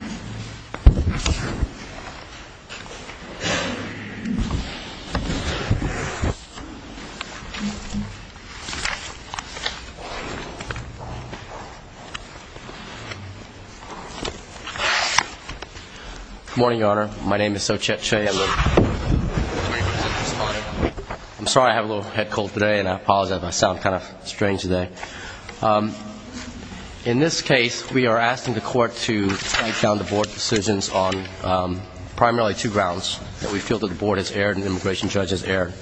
Good morning, Your Honor. My name is Sochet Che. I'm sorry I have a little head cold today and I apologize if I sound kind of strange today. In this case, we are asking the Court to write down the Board's decisions on primarily two grounds that we feel that the Board has erred and the immigration judge has erred.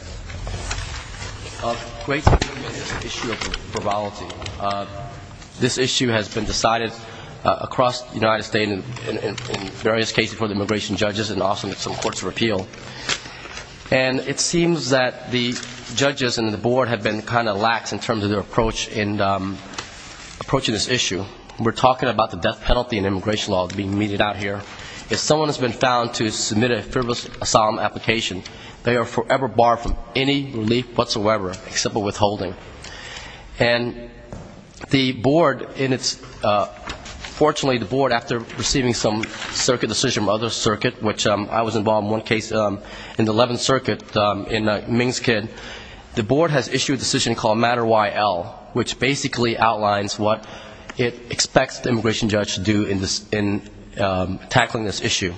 Great is the issue of probability. This issue has been decided across the United States in various cases before the immigration judges and also in some courts of appeal. And it seems that the judges and the Board have been kind of lax in terms of their approach in approaching this issue. We're talking about the death penalty in immigration law being meted out here. If someone has been found to submit a frivolous asylum application, they are forever barred from any relief whatsoever except for withholding. And the Board, fortunately, the Board, after receiving some circuit decision from other circuits, which I was involved in one case in the 11th Circuit in Mingskid, the Board has issued a decision called Matter YL, which basically outlines what it expects the immigration judge to do in tackling this issue.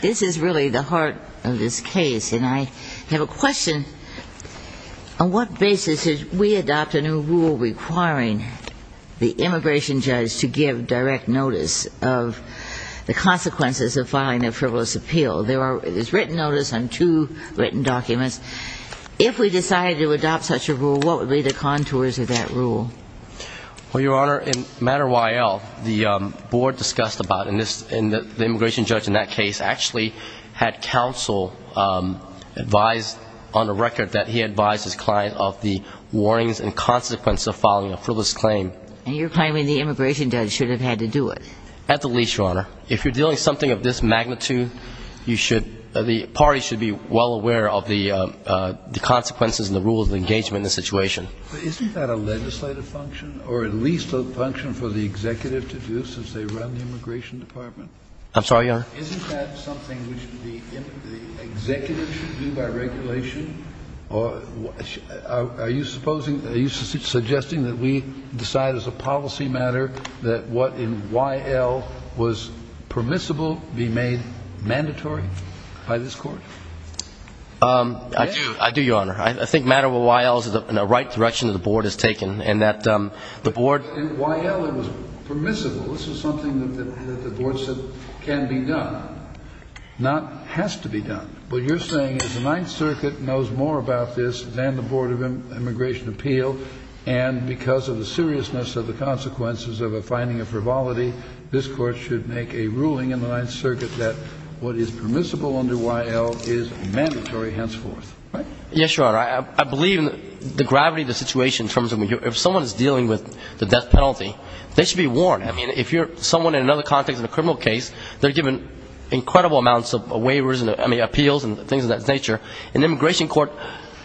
This is really the heart of this case. And I have a question. On what basis did we adopt a new rule requiring the immigration judge to give direct notice of the consequences of filing a frivolous appeal? There is written notice on two written documents. If we decided to adopt such a rule, what would be the contours of that rule? Well, Your Honor, in Matter YL, the Board discussed about, and the immigration judge in that case actually had counsel advise on a record that he advised his client of the warnings and consequences of filing a frivolous claim. And you're claiming the immigration judge should have had to do it? At the least, Your Honor. If you're dealing with something of this magnitude, you should ‑‑ the parties should be well aware of the consequences and the rules of engagement in this situation. But isn't that a legislative function, or at least a function for the executive to do since they run the immigration department? I'm sorry, Your Honor? Isn't that something which the executive should do by regulation? Are you suggesting that we decide as a policy matter that what in YL was permissible be made mandatory by this Court? I do, Your Honor. I think Matter YL is in the right direction that the Board has taken in that the Board ‑‑ In YL, it was permissible. This was something that the Board said can be done, not has to be done. What you're saying is the Ninth Circuit knows more about this than the Board of Immigration Appeal, and because of the seriousness of the consequences of a finding of frivolity, this Court should make a ruling in the Ninth Circuit that what is permissible under YL is mandatory henceforth. Yes, Your Honor. I believe in the gravity of the situation in terms of ‑‑ if someone is dealing with the death penalty, they should be warned. I mean, if you're someone in another context in a criminal case, they're given incredible amounts of waivers and appeals and things of that nature. In the immigration court,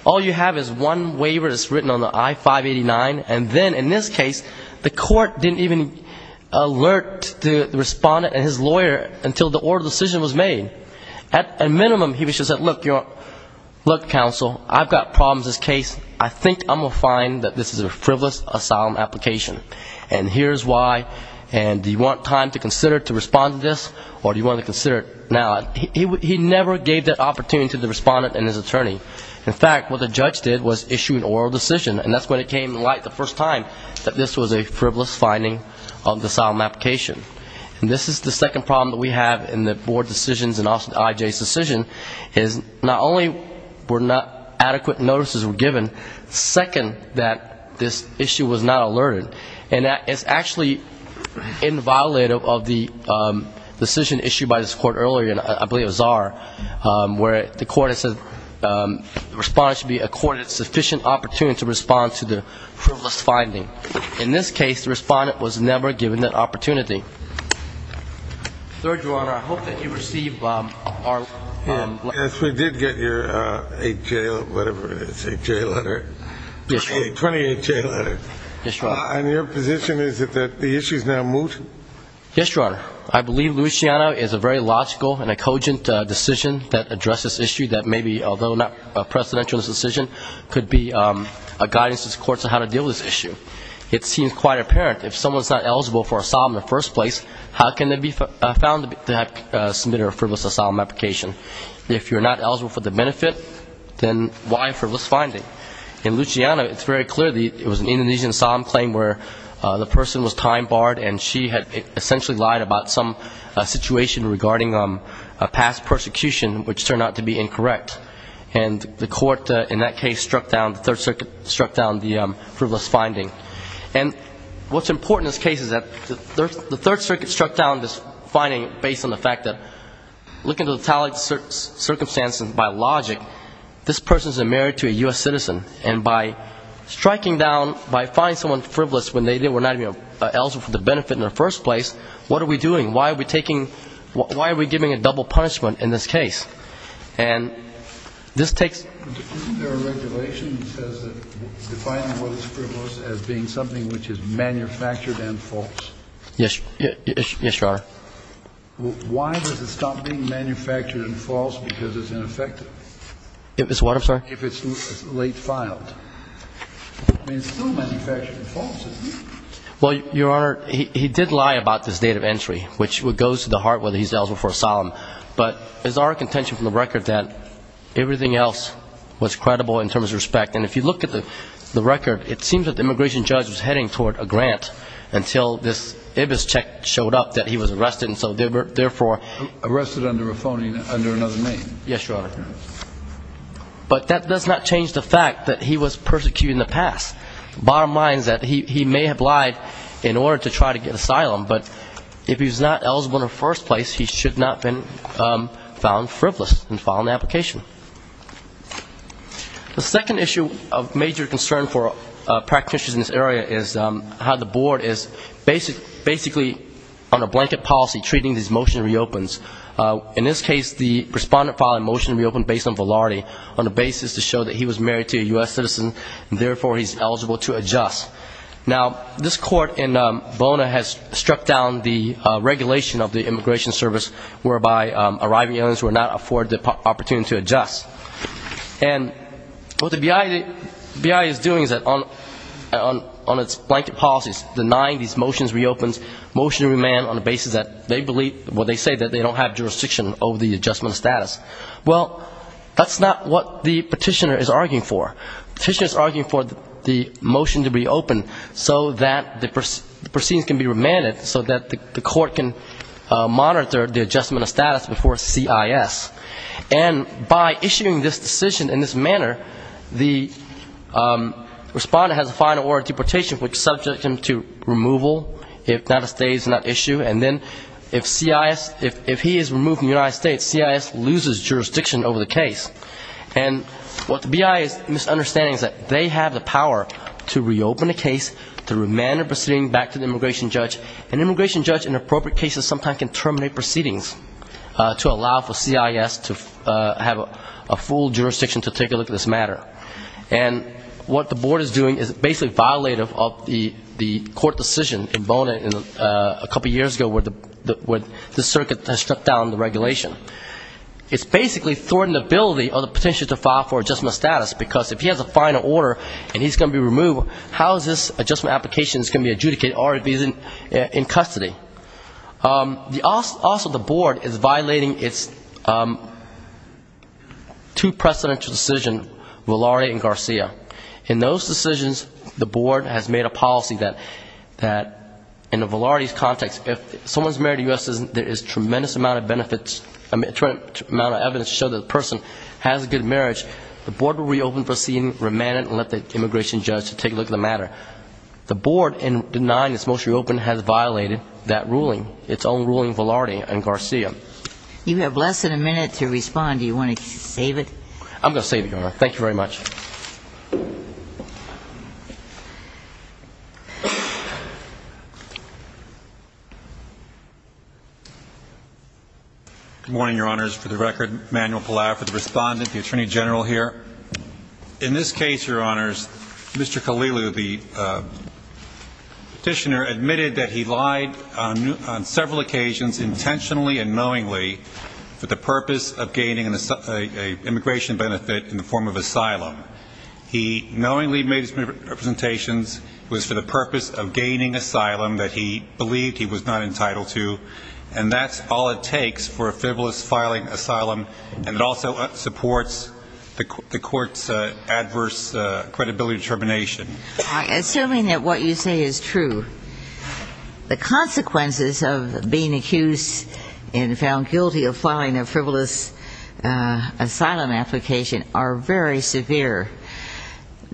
all you have is one waiver that's written on the I589, and then in this case, the Court didn't even alert the respondent and his lawyer until the oral decision was made. At a minimum, he should have said, look, counsel, I've got problems in this case. I think I'm going to find that this is a frivolous asylum application, and here's why, and do you want time to consider to respond to this, or do you want to consider it now? He never gave that opportunity to the respondent and his attorney. In fact, what the judge did was issue an oral decision, and that's when it came to light the first time that this was a frivolous finding of the asylum application. And this is the second problem that we have in the board decisions and also in IJ's decision, is not only were not adequate notices given, second, that this issue was not alerted, and that is actually inviolate of the decision issued by this Court earlier, and I believe it was Zarr, where the Court has said the respondent should be accorded sufficient opportunity to respond to the frivolous finding. In this case, the respondent was never given that opportunity. Third, Your Honor, I hope that you received our letter. Yes, we did get your 8J, whatever it is, 8J letter. Yes, Your Honor. 28J letter. Yes, Your Honor. And your position is that the issue is now moot? Yes, Your Honor. I believe Luciano is a very logical and a cogent decision that addresses this issue that maybe, although not a presidential decision, could be a guidance to the courts on how to deal with this issue. It seems quite apparent, if someone is not eligible for asylum in the first place, how can they be found to have submitted a frivolous asylum application? If you're not eligible for the benefit, then why frivolous finding? In Luciano, it's very clear it was an Indonesian asylum claim where the person was time barred and she had essentially lied about some situation regarding past persecution, which turned out to be incorrect. And the court in that case struck down, the Third Circuit struck down the frivolous finding. And what's important in this case is that the Third Circuit struck down this finding based on the fact that, looking at the tally of circumstances by logic, this person is a married to a U.S. citizen. And by striking down, by finding someone frivolous when they are not eligible, what are we doing? Why are we taking, why are we giving a double punishment in this case? And this takes... Isn't there a regulation that says that defining what is frivolous as being something which is manufactured and false? Yes, Your Honor. Why does it stop being manufactured and false because it's ineffective? If it's what, I'm sorry? If it's late filed. I mean, it's still manufactured and false, isn't it? Well, Your Honor, he did lie about this date of entry, which goes to the heart whether he's eligible for asylum. But it's our contention from the record that everything else was credible in terms of respect. And if you look at the record, it seems that the immigration judge was heading toward a grant until this IBIS check showed up that he was arrested, and so therefore... Arrested under another name. Yes, Your Honor. But that does not change the fact that he was persecuted in the past. Bottom line is that he may have lied in order to try to get asylum, but if he's not eligible in the first place, he should not have been found frivolous and filed an application. The second issue of major concern for practitioners in this area is how the board is basically on a blanket policy treating these motion reopens. In this case, the respondent filed a motion to reopen based on validity, on the basis to show that he was married to a U.S. citizen, and therefore he's eligible to adjust. Now, this court in Volna has struck down the regulation of the immigration service, whereby arriving aliens were not afforded the opportunity to adjust. And what the BI is doing is that on its blanket policies, denying these motions reopens, motion to remand on the basis that they believe, what they say, that they don't have jurisdiction over the adjustment status. Well, that's not what the petitioner is arguing for. The petitioner is arguing for the motion to reopen so that the proceedings can be remanded, so that the court can monitor the adjustment of status before CIS. And by issuing this decision in this manner, the respondent has a final order of deportation which subjects him to removal if that stays in that issue, and then if CIS, if he is removed from the United States, CIS loses jurisdiction over the case. And what the BI is misunderstanding is that they have the power to reopen the case, to remand the proceeding back to the immigration judge, and the immigration judge in appropriate cases sometimes can terminate proceedings to allow for CIS to have a full jurisdiction to take a look at this matter. And what the board is doing is basically violating the court decision in Volna a couple years ago where the circuit has struck down the regulation. It's basically thwarting the ability of the petitioner to file for adjustment of status, because if he has a final order and he's going to be removed, how is this adjustment application going to be adjudicated, or if he's in custody? Also, the board is violating its two-precedential decision, Velarde and Garcia. In those decisions, the board has made a policy that in the Velarde's context, if someone's married to a U.S. citizen, there is a tremendous amount of evidence to show that the person has a good marriage. The court has reopened the proceeding, remanded it, and let the immigration judge take a look at the matter. The board, in denying its motion to reopen, has violated that ruling, its own ruling, Velarde and Garcia. You have less than a minute to respond. Do you want to save it? I'm going to save it, Your Honor. Thank you very much. Good morning, Your Honors. For the record, Manuel Pallado for the Respondent, the Attorney General here. In this case, Your Honors, Mr. Khalilu, the petitioner, admitted that he lied on several occasions intentionally and knowingly for the purpose of gaining an immigration benefit in the form of asylum. He knowingly made representations for the purpose of gaining asylum that he believed he was not entitled to, and that's all it takes for a frivolous filing of asylum, and it also supports the court's adverse credibility determination. Assuming that what you say is true, the consequences of being accused and found guilty of filing a frivolous asylum application are very severe.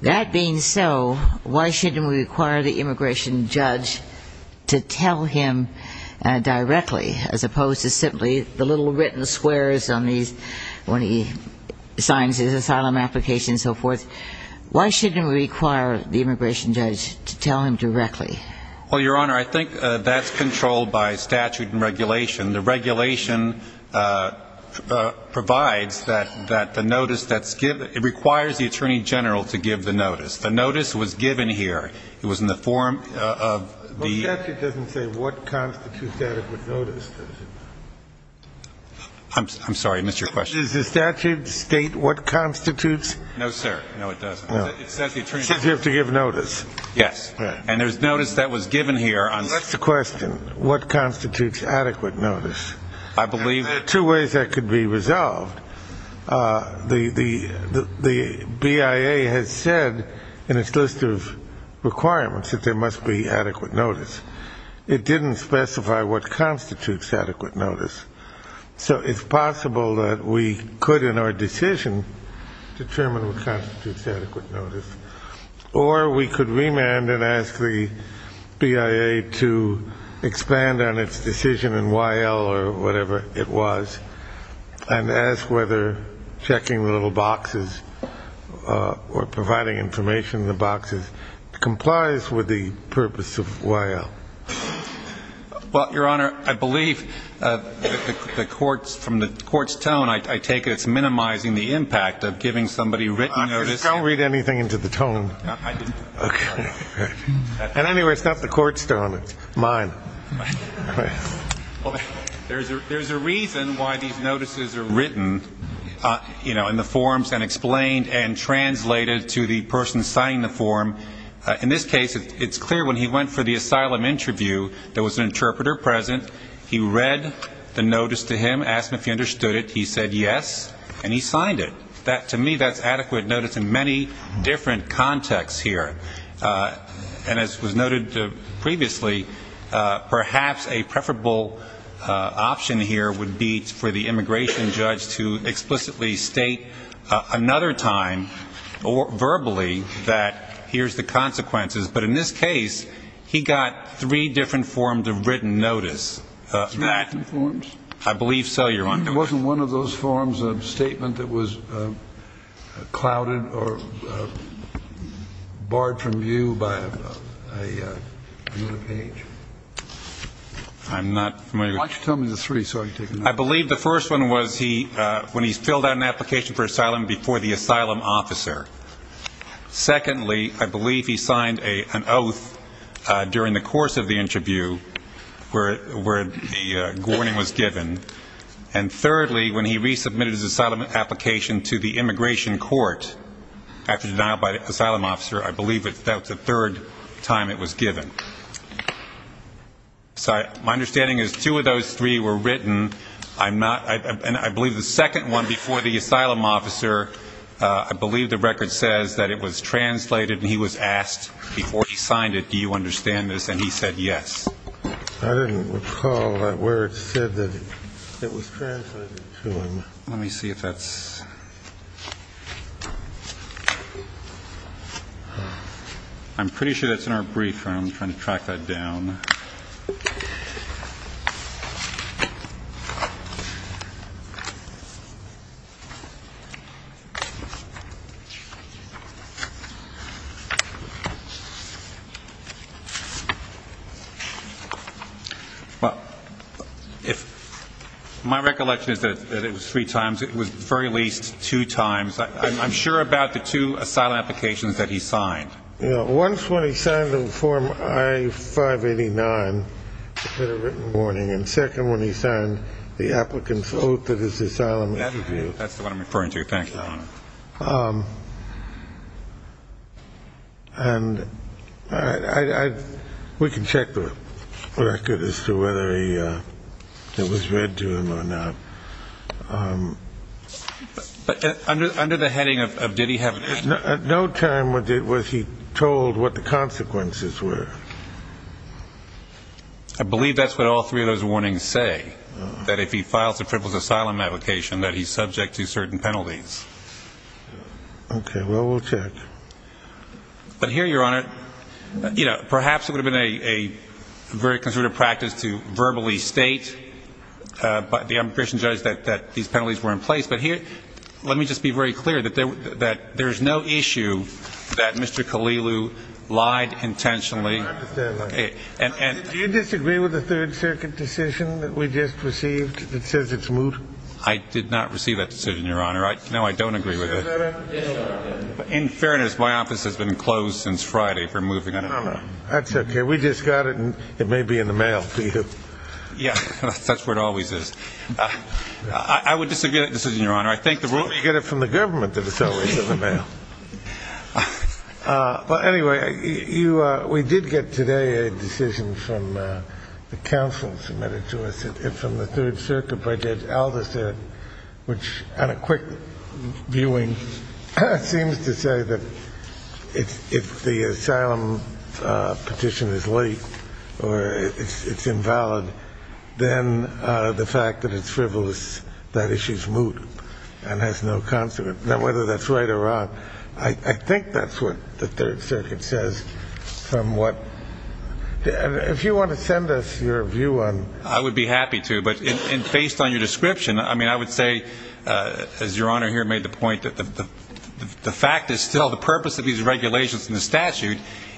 That being so, why shouldn't we require the immigration judge to tell him directly, as opposed to simply the little written swears on these when he signs his asylum application and so forth? Why shouldn't we require the immigration judge to tell him directly? Well, Your Honor, I think that's controlled by statute and regulation. The regulation provides that the notice that's given, it requires the Attorney General to give the notice. The notice was given here. It was in the form of the ---- But statute doesn't say what constitutes adequate notice, does it? I'm sorry, I missed your question. Does the statute state what constitutes ---- There are two ways that could be resolved. The BIA has said in its list of requirements that there must be adequate notice. It didn't specify what constitutes adequate notice. So it's possible that we could, in our decision, determine what constitutes adequate notice, or we could remand and ask the BIA to expand on its decision in Y.L. or whatever it was, and ask whether checking the little boxes or providing information in the boxes complies with the purpose of Y.L. Well, Your Honor, I believe from the court's tone, I take it it's minimizing the impact of giving somebody written notice. And anyway, it's not the court's tone, it's mine. There's a reason why these notices are written in the forms and explained and translated to the person signing the form. In this case, it's clear when he went for the asylum interview, there was an interpreter present. He read the notice to him, asked him if he understood it. He said yes, and he signed it. To me, that's adequate notice in many different contexts here. And as was noted previously, perhaps a preferable option here would be for the immigration judge to explicitly state another time verbally that here's the consequences. But in this case, he got three different forms of written notice. Three different forms? I believe so, Your Honor. Wasn't one of those forms a statement that was clouded or barred from view by another page? I'm not familiar. Why don't you tell me the three so I can take a note? I believe the first one was when he filled out an application for asylum before the asylum officer. Secondly, I believe he signed an oath during the course of the interview where the warning was given. And thirdly, when he resubmitted his asylum application to the immigration court after denial by the asylum officer, I believe that was the third time it was given. So my understanding is two of those three were written. And I believe the second one before the asylum officer, I believe the record says that it was translated and he was asked before he signed it, do you understand this, and he said yes. I didn't recall where it said that it was translated to him. Let me see if that's ---- I'm pretty sure that's in our brief, Your Honor. I'm trying to track that down. My recollection is that it was three times. It was at the very least two times. I'm sure about the two asylum applications that he signed. Once when he signed them in Form I-589, the written warning, and second when he signed the applicant's oath at his asylum interview. That's the one I'm referring to. Thank you. And we can check the record as to whether it was read to him or not. But under the heading of did he have ---- At no time was he told what the consequences were. I believe that's what all three of those warnings say, that if he files a crippled asylum application, that he's subject to certain penalties. Okay. Well, we'll check. But here, Your Honor, you know, perhaps it would have been a very conservative practice to verbally state by the immigration judge that these penalties were in place. But here, let me just be very clear that there is no issue that Mr. Kalilu lied intentionally. I understand that. Do you disagree with the Third Circuit decision that we just received that says it's moot? I did not receive that decision, Your Honor. No, I don't agree with it. In fairness, my office has been closed since Friday for moving it. That's okay. We just got it, and it may be in the mail for you. Yeah, that's where it always is. It's not where you get it from the government that it's always in the mail. But anyway, we did get today a decision from the counsel submitted to us from the Third Circuit by Judge Alderson, which on a quick viewing seems to say that if the asylum petition is leaked or it's invalid, then the fact that it's frivolous, that issue's moot and has no consequence. Now, whether that's right or wrong, I think that's what the Third Circuit says somewhat. If you want to send us your view on it. I would be happy to, but based on your description, I mean, I would say, as Your Honor here made the point, that the fact is still the purpose of these regulations in the statute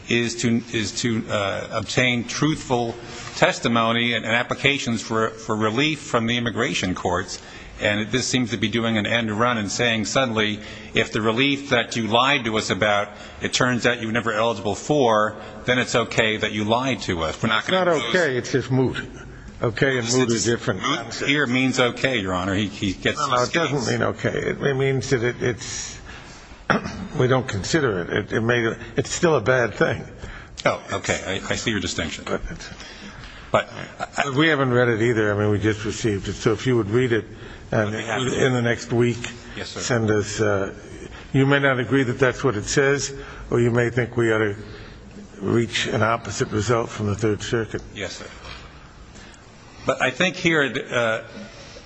is to obtain truthful testimony, and applications for relief from the immigration courts. And this seems to be doing an end to run and saying, suddenly, if the relief that you lied to us about, it turns out you were never eligible for, then it's okay that you lied to us. It's not okay. It's just moot. Okay and moot is different. Moot here means okay, Your Honor. It doesn't mean okay. It means that it's, we don't consider it. It's still a bad thing. Oh, okay. I see your distinction. We haven't read it either. I mean, we just received it. So if you would read it in the next week, send us, you may not agree that that's what it says, or you may think we ought to reach an opposite result from the Third Circuit. Yes, sir. But I think here,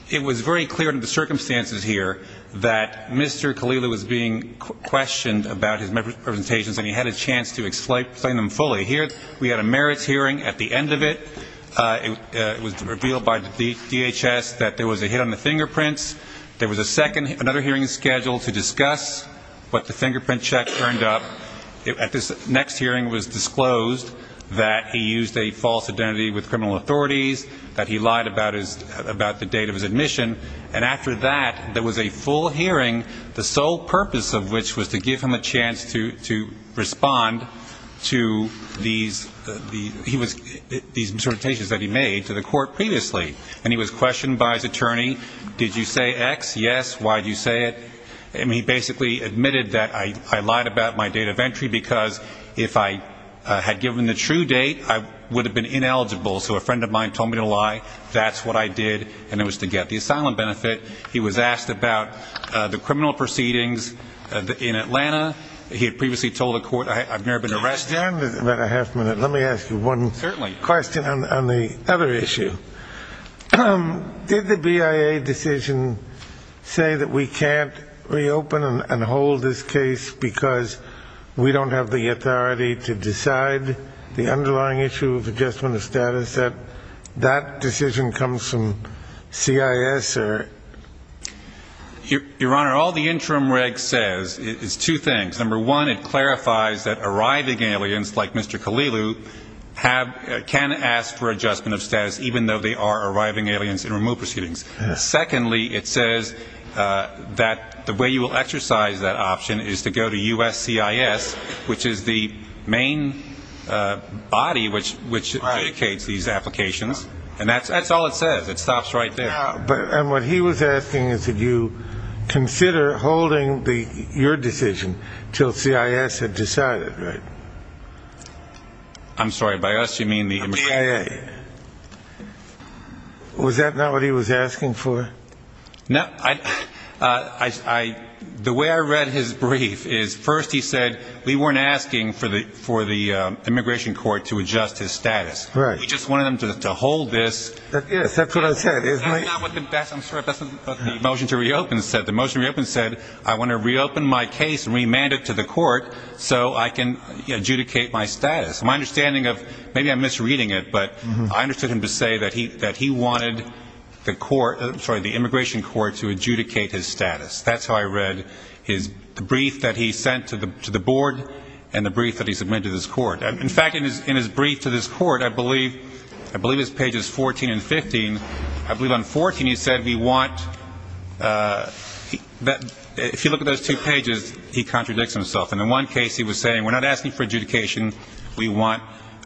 it was very clear under the circumstances here that Mr. Khalilu was being questioned about his presentations, and he had a chance to explain them fully. Here we had a merits hearing at the end of it. It was revealed by the DHS that there was a hit on the fingerprints. There was a second, another hearing scheduled to discuss what the fingerprint check turned up. At this next hearing it was disclosed that he used a false identity with criminal authorities, that he lied about the date of his admission. And after that, there was a full hearing, the sole purpose of which was to give him a chance to respond to these presentations that he made to the court previously. And he was questioned by his attorney. Did you say X? Yes. Why did you say it? I mean, he basically admitted that I lied about my date of entry, because if I had given the true date, I would have been ineligible. So a friend of mine told me to lie. That's what I did. And it was to get the asylum benefit. He was asked about the criminal proceedings in Atlanta. He had previously told a court, I've never been arrested. Let me ask you one question on the other issue. Did the BIA decision say that we can't reopen and hold this case, because we don't have the authority to decide the underlying issue of adjustment of status, that that decision comes from CIS? Your Honor, all the interim reg says is two things. Number one, it clarifies that arriving aliens, like Mr. Kalilu, can ask for adjustment of status, even though they are arriving aliens in remote proceedings. Secondly, it says that the way you will exercise that option is to go to U.S.C.I.S., which is the main body which indicates these applications. And that's all it says. It stops right there. And what he was asking is that you consider holding your decision until CIS had decided, right? I'm sorry, by us you mean the immigration court? The BIA. Was that not what he was asking for? No. The way I read his brief is first he said we weren't asking for the immigration court to adjust his status. We just wanted him to hold this. That's what the motion to reopen said. The motion to reopen said I want to reopen my case and remand it to the court so I can adjudicate my status. Maybe I'm misreading it, but I understood him to say that he wanted the immigration court to adjudicate his status. That's how I read the brief that he sent to the board and the brief that he submitted to this court. In fact, in his brief to this court, I believe this page is 14 and 15. I believe on 14 he said we want that if you look at those two pages, he contradicts himself. And in one case he was saying we're not asking for adjudication. We want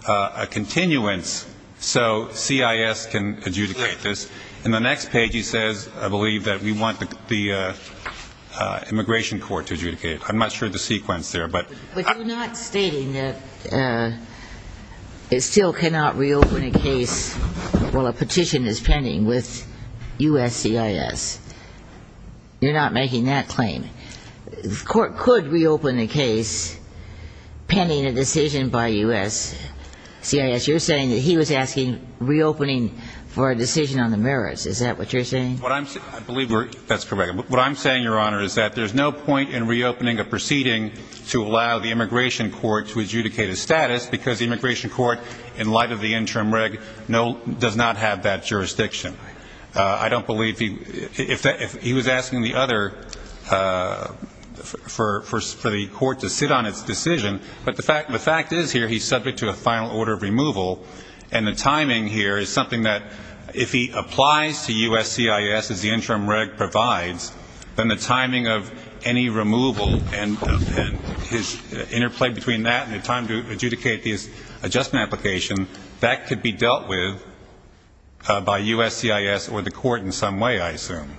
a continuance so CIS can adjudicate this. In the next page he says I believe that we want the immigration court to adjudicate it. I'm not sure the sequence there. But you're not stating that it still cannot reopen a case while a petition is pending with USCIS. You're not making that claim. The court could reopen a case pending a decision by USCIS. You're saying that he was asking reopening for a decision on the merits. Is that what you're saying? I believe that's correct. What I'm saying, Your Honor, is that there's no point in reopening a proceeding to allow the immigration court to adjudicate his status because the immigration court in light of the interim reg does not have that jurisdiction. I don't believe he was asking the other for the court to sit on its decision. But the fact is here he's subject to a final order of removal. And the timing here is something that if he applies to USCIS as the interim reg provides, then the timing of any removal and his interplay between that and the time to adjudicate the adjustment application, that could be dealt with by USCIS or the court in some way, I assume.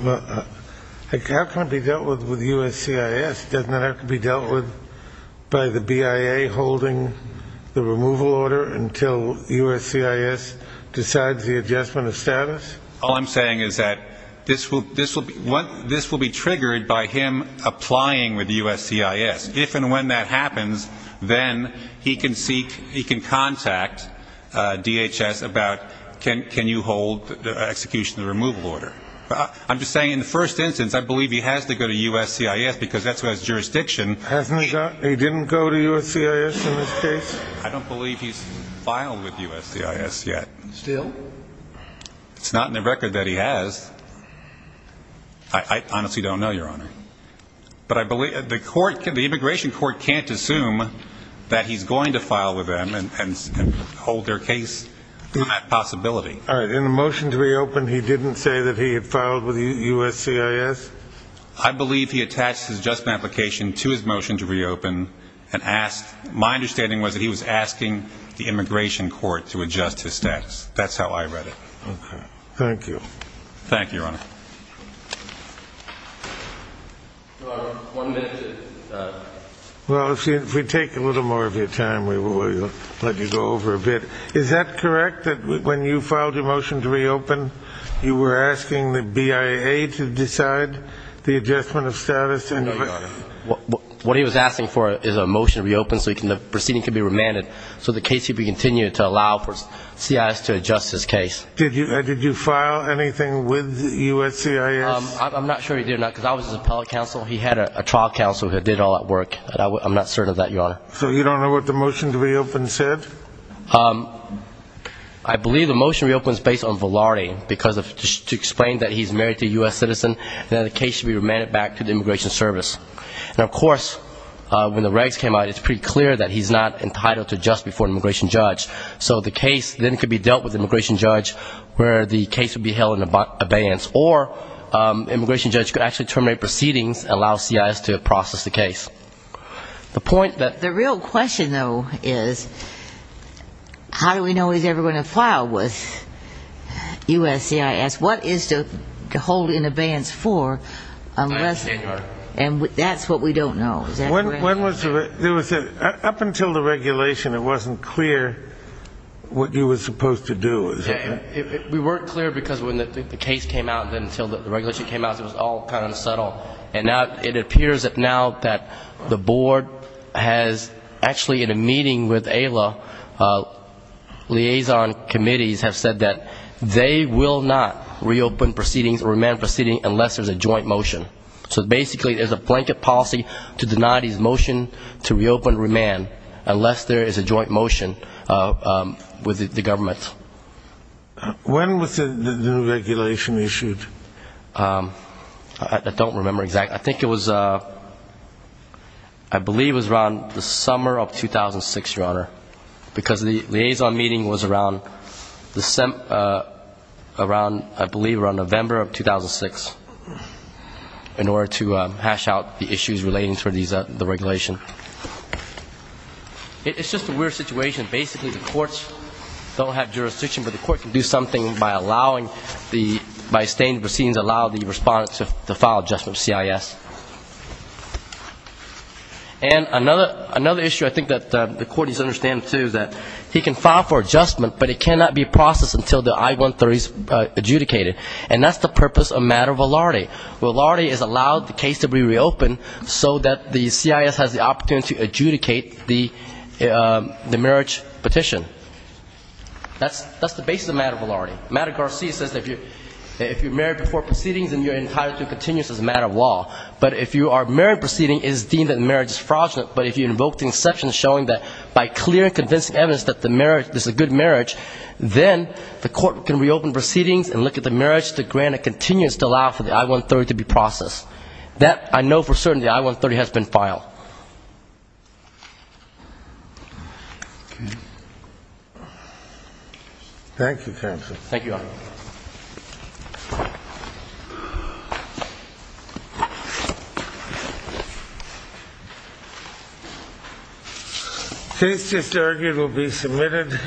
How can it be dealt with with USCIS? Doesn't that have to be dealt with by the BIA holding the removal order until USCIS decides the adjustment of status? All I'm saying is that this will be triggered by him applying with USCIS. If and when that happens, then he can contact DHS about can you hold the execution of the removal order. I'm just saying in the first instance, I believe he has to go to USCIS because that's who has jurisdiction. He didn't go to USCIS in this case? I don't believe he's filed with USCIS yet. Still? It's not in the record that he has. I honestly don't know, Your Honor. But the immigration court can't assume that he's going to file with them and hold their case on that possibility. In the motion to reopen, he didn't say that he had filed with USCIS? I believe he attached his adjustment application to his motion to reopen. My understanding was that he was asking the immigration court to adjust his status. That's how I read it. Okay. Thank you. One minute. Well, if we take a little more of your time, we will let you go over a bit. Is that correct, that when you filed your motion to reopen, you were asking the BIA to decide the adjustment of status? No, Your Honor. What he was asking for is a motion to reopen so the proceeding could be remanded so the case could be continued to allow for CIS to adjust his case. Did you file anything with USCIS? I'm not sure he did or not, because I was his appellate counsel. He had a trial counsel who did all that work. I'm not certain of that, Your Honor. So you don't know what the motion to reopen said? I believe the motion to reopen is based on velarde, to explain that he's married to a U.S. citizen and that the case should be remanded back to the immigration service. And of course, when the regs came out, it's pretty clear that he's not entitled to adjust before an immigration judge. So the case then could be dealt with the immigration judge, where the case would be held in abeyance. Or the immigration judge could actually terminate proceedings and allow CIS to process the case. The real question, though, is how do we know he's ever going to file with USCIS? What is to hold in abeyance for? And that's what we don't know. Up until the regulation, it wasn't clear what you were supposed to do, is it? We weren't clear because when the case came out, until the regulation came out, it was all kind of subtle. And it appears now that the board has actually, in a meeting with AILA, liaison committees have said that they will not reopen proceedings or remand proceedings unless there's a joint motion. So basically there's a blanket policy to deny these motions to reopen remand unless there is a joint motion with the government. When was the new regulation issued? I don't remember exactly. I think it was, I believe it was around the summer of 2006, Your Honor, because the liaison meeting was around, I believe, around November of 2006. In order to hash out the issues relating to the regulation. It's just a weird situation. Basically the courts don't have jurisdiction, but the court can do something by allowing the, by staying in proceedings, allowing the respondent to file adjustment with CIS. And another issue I think that the court needs to understand, too, is that he can file for adjustment, but it cannot be processed until the I-130 is adjudicated. And that's the purpose of matter velarde. Velarde is allowed the case to be reopened so that the CIS has the opportunity to adjudicate the marriage petition. That's the basis of matter velarde. Matter Garcia says that if you're married before proceedings, then your entirety continues as a matter of law. But if you are married, proceeding is deemed that marriage is fraudulent, but if you invoke the inception showing that by clear and convincing evidence that the marriage, this is a good marriage, then the court can reopen proceedings and look at the marriage to grant a continuance to allow for the I-130 to be processed. That, I know for certain, the I-130 has been filed. Thank you, counsel. Thank you, Your Honor.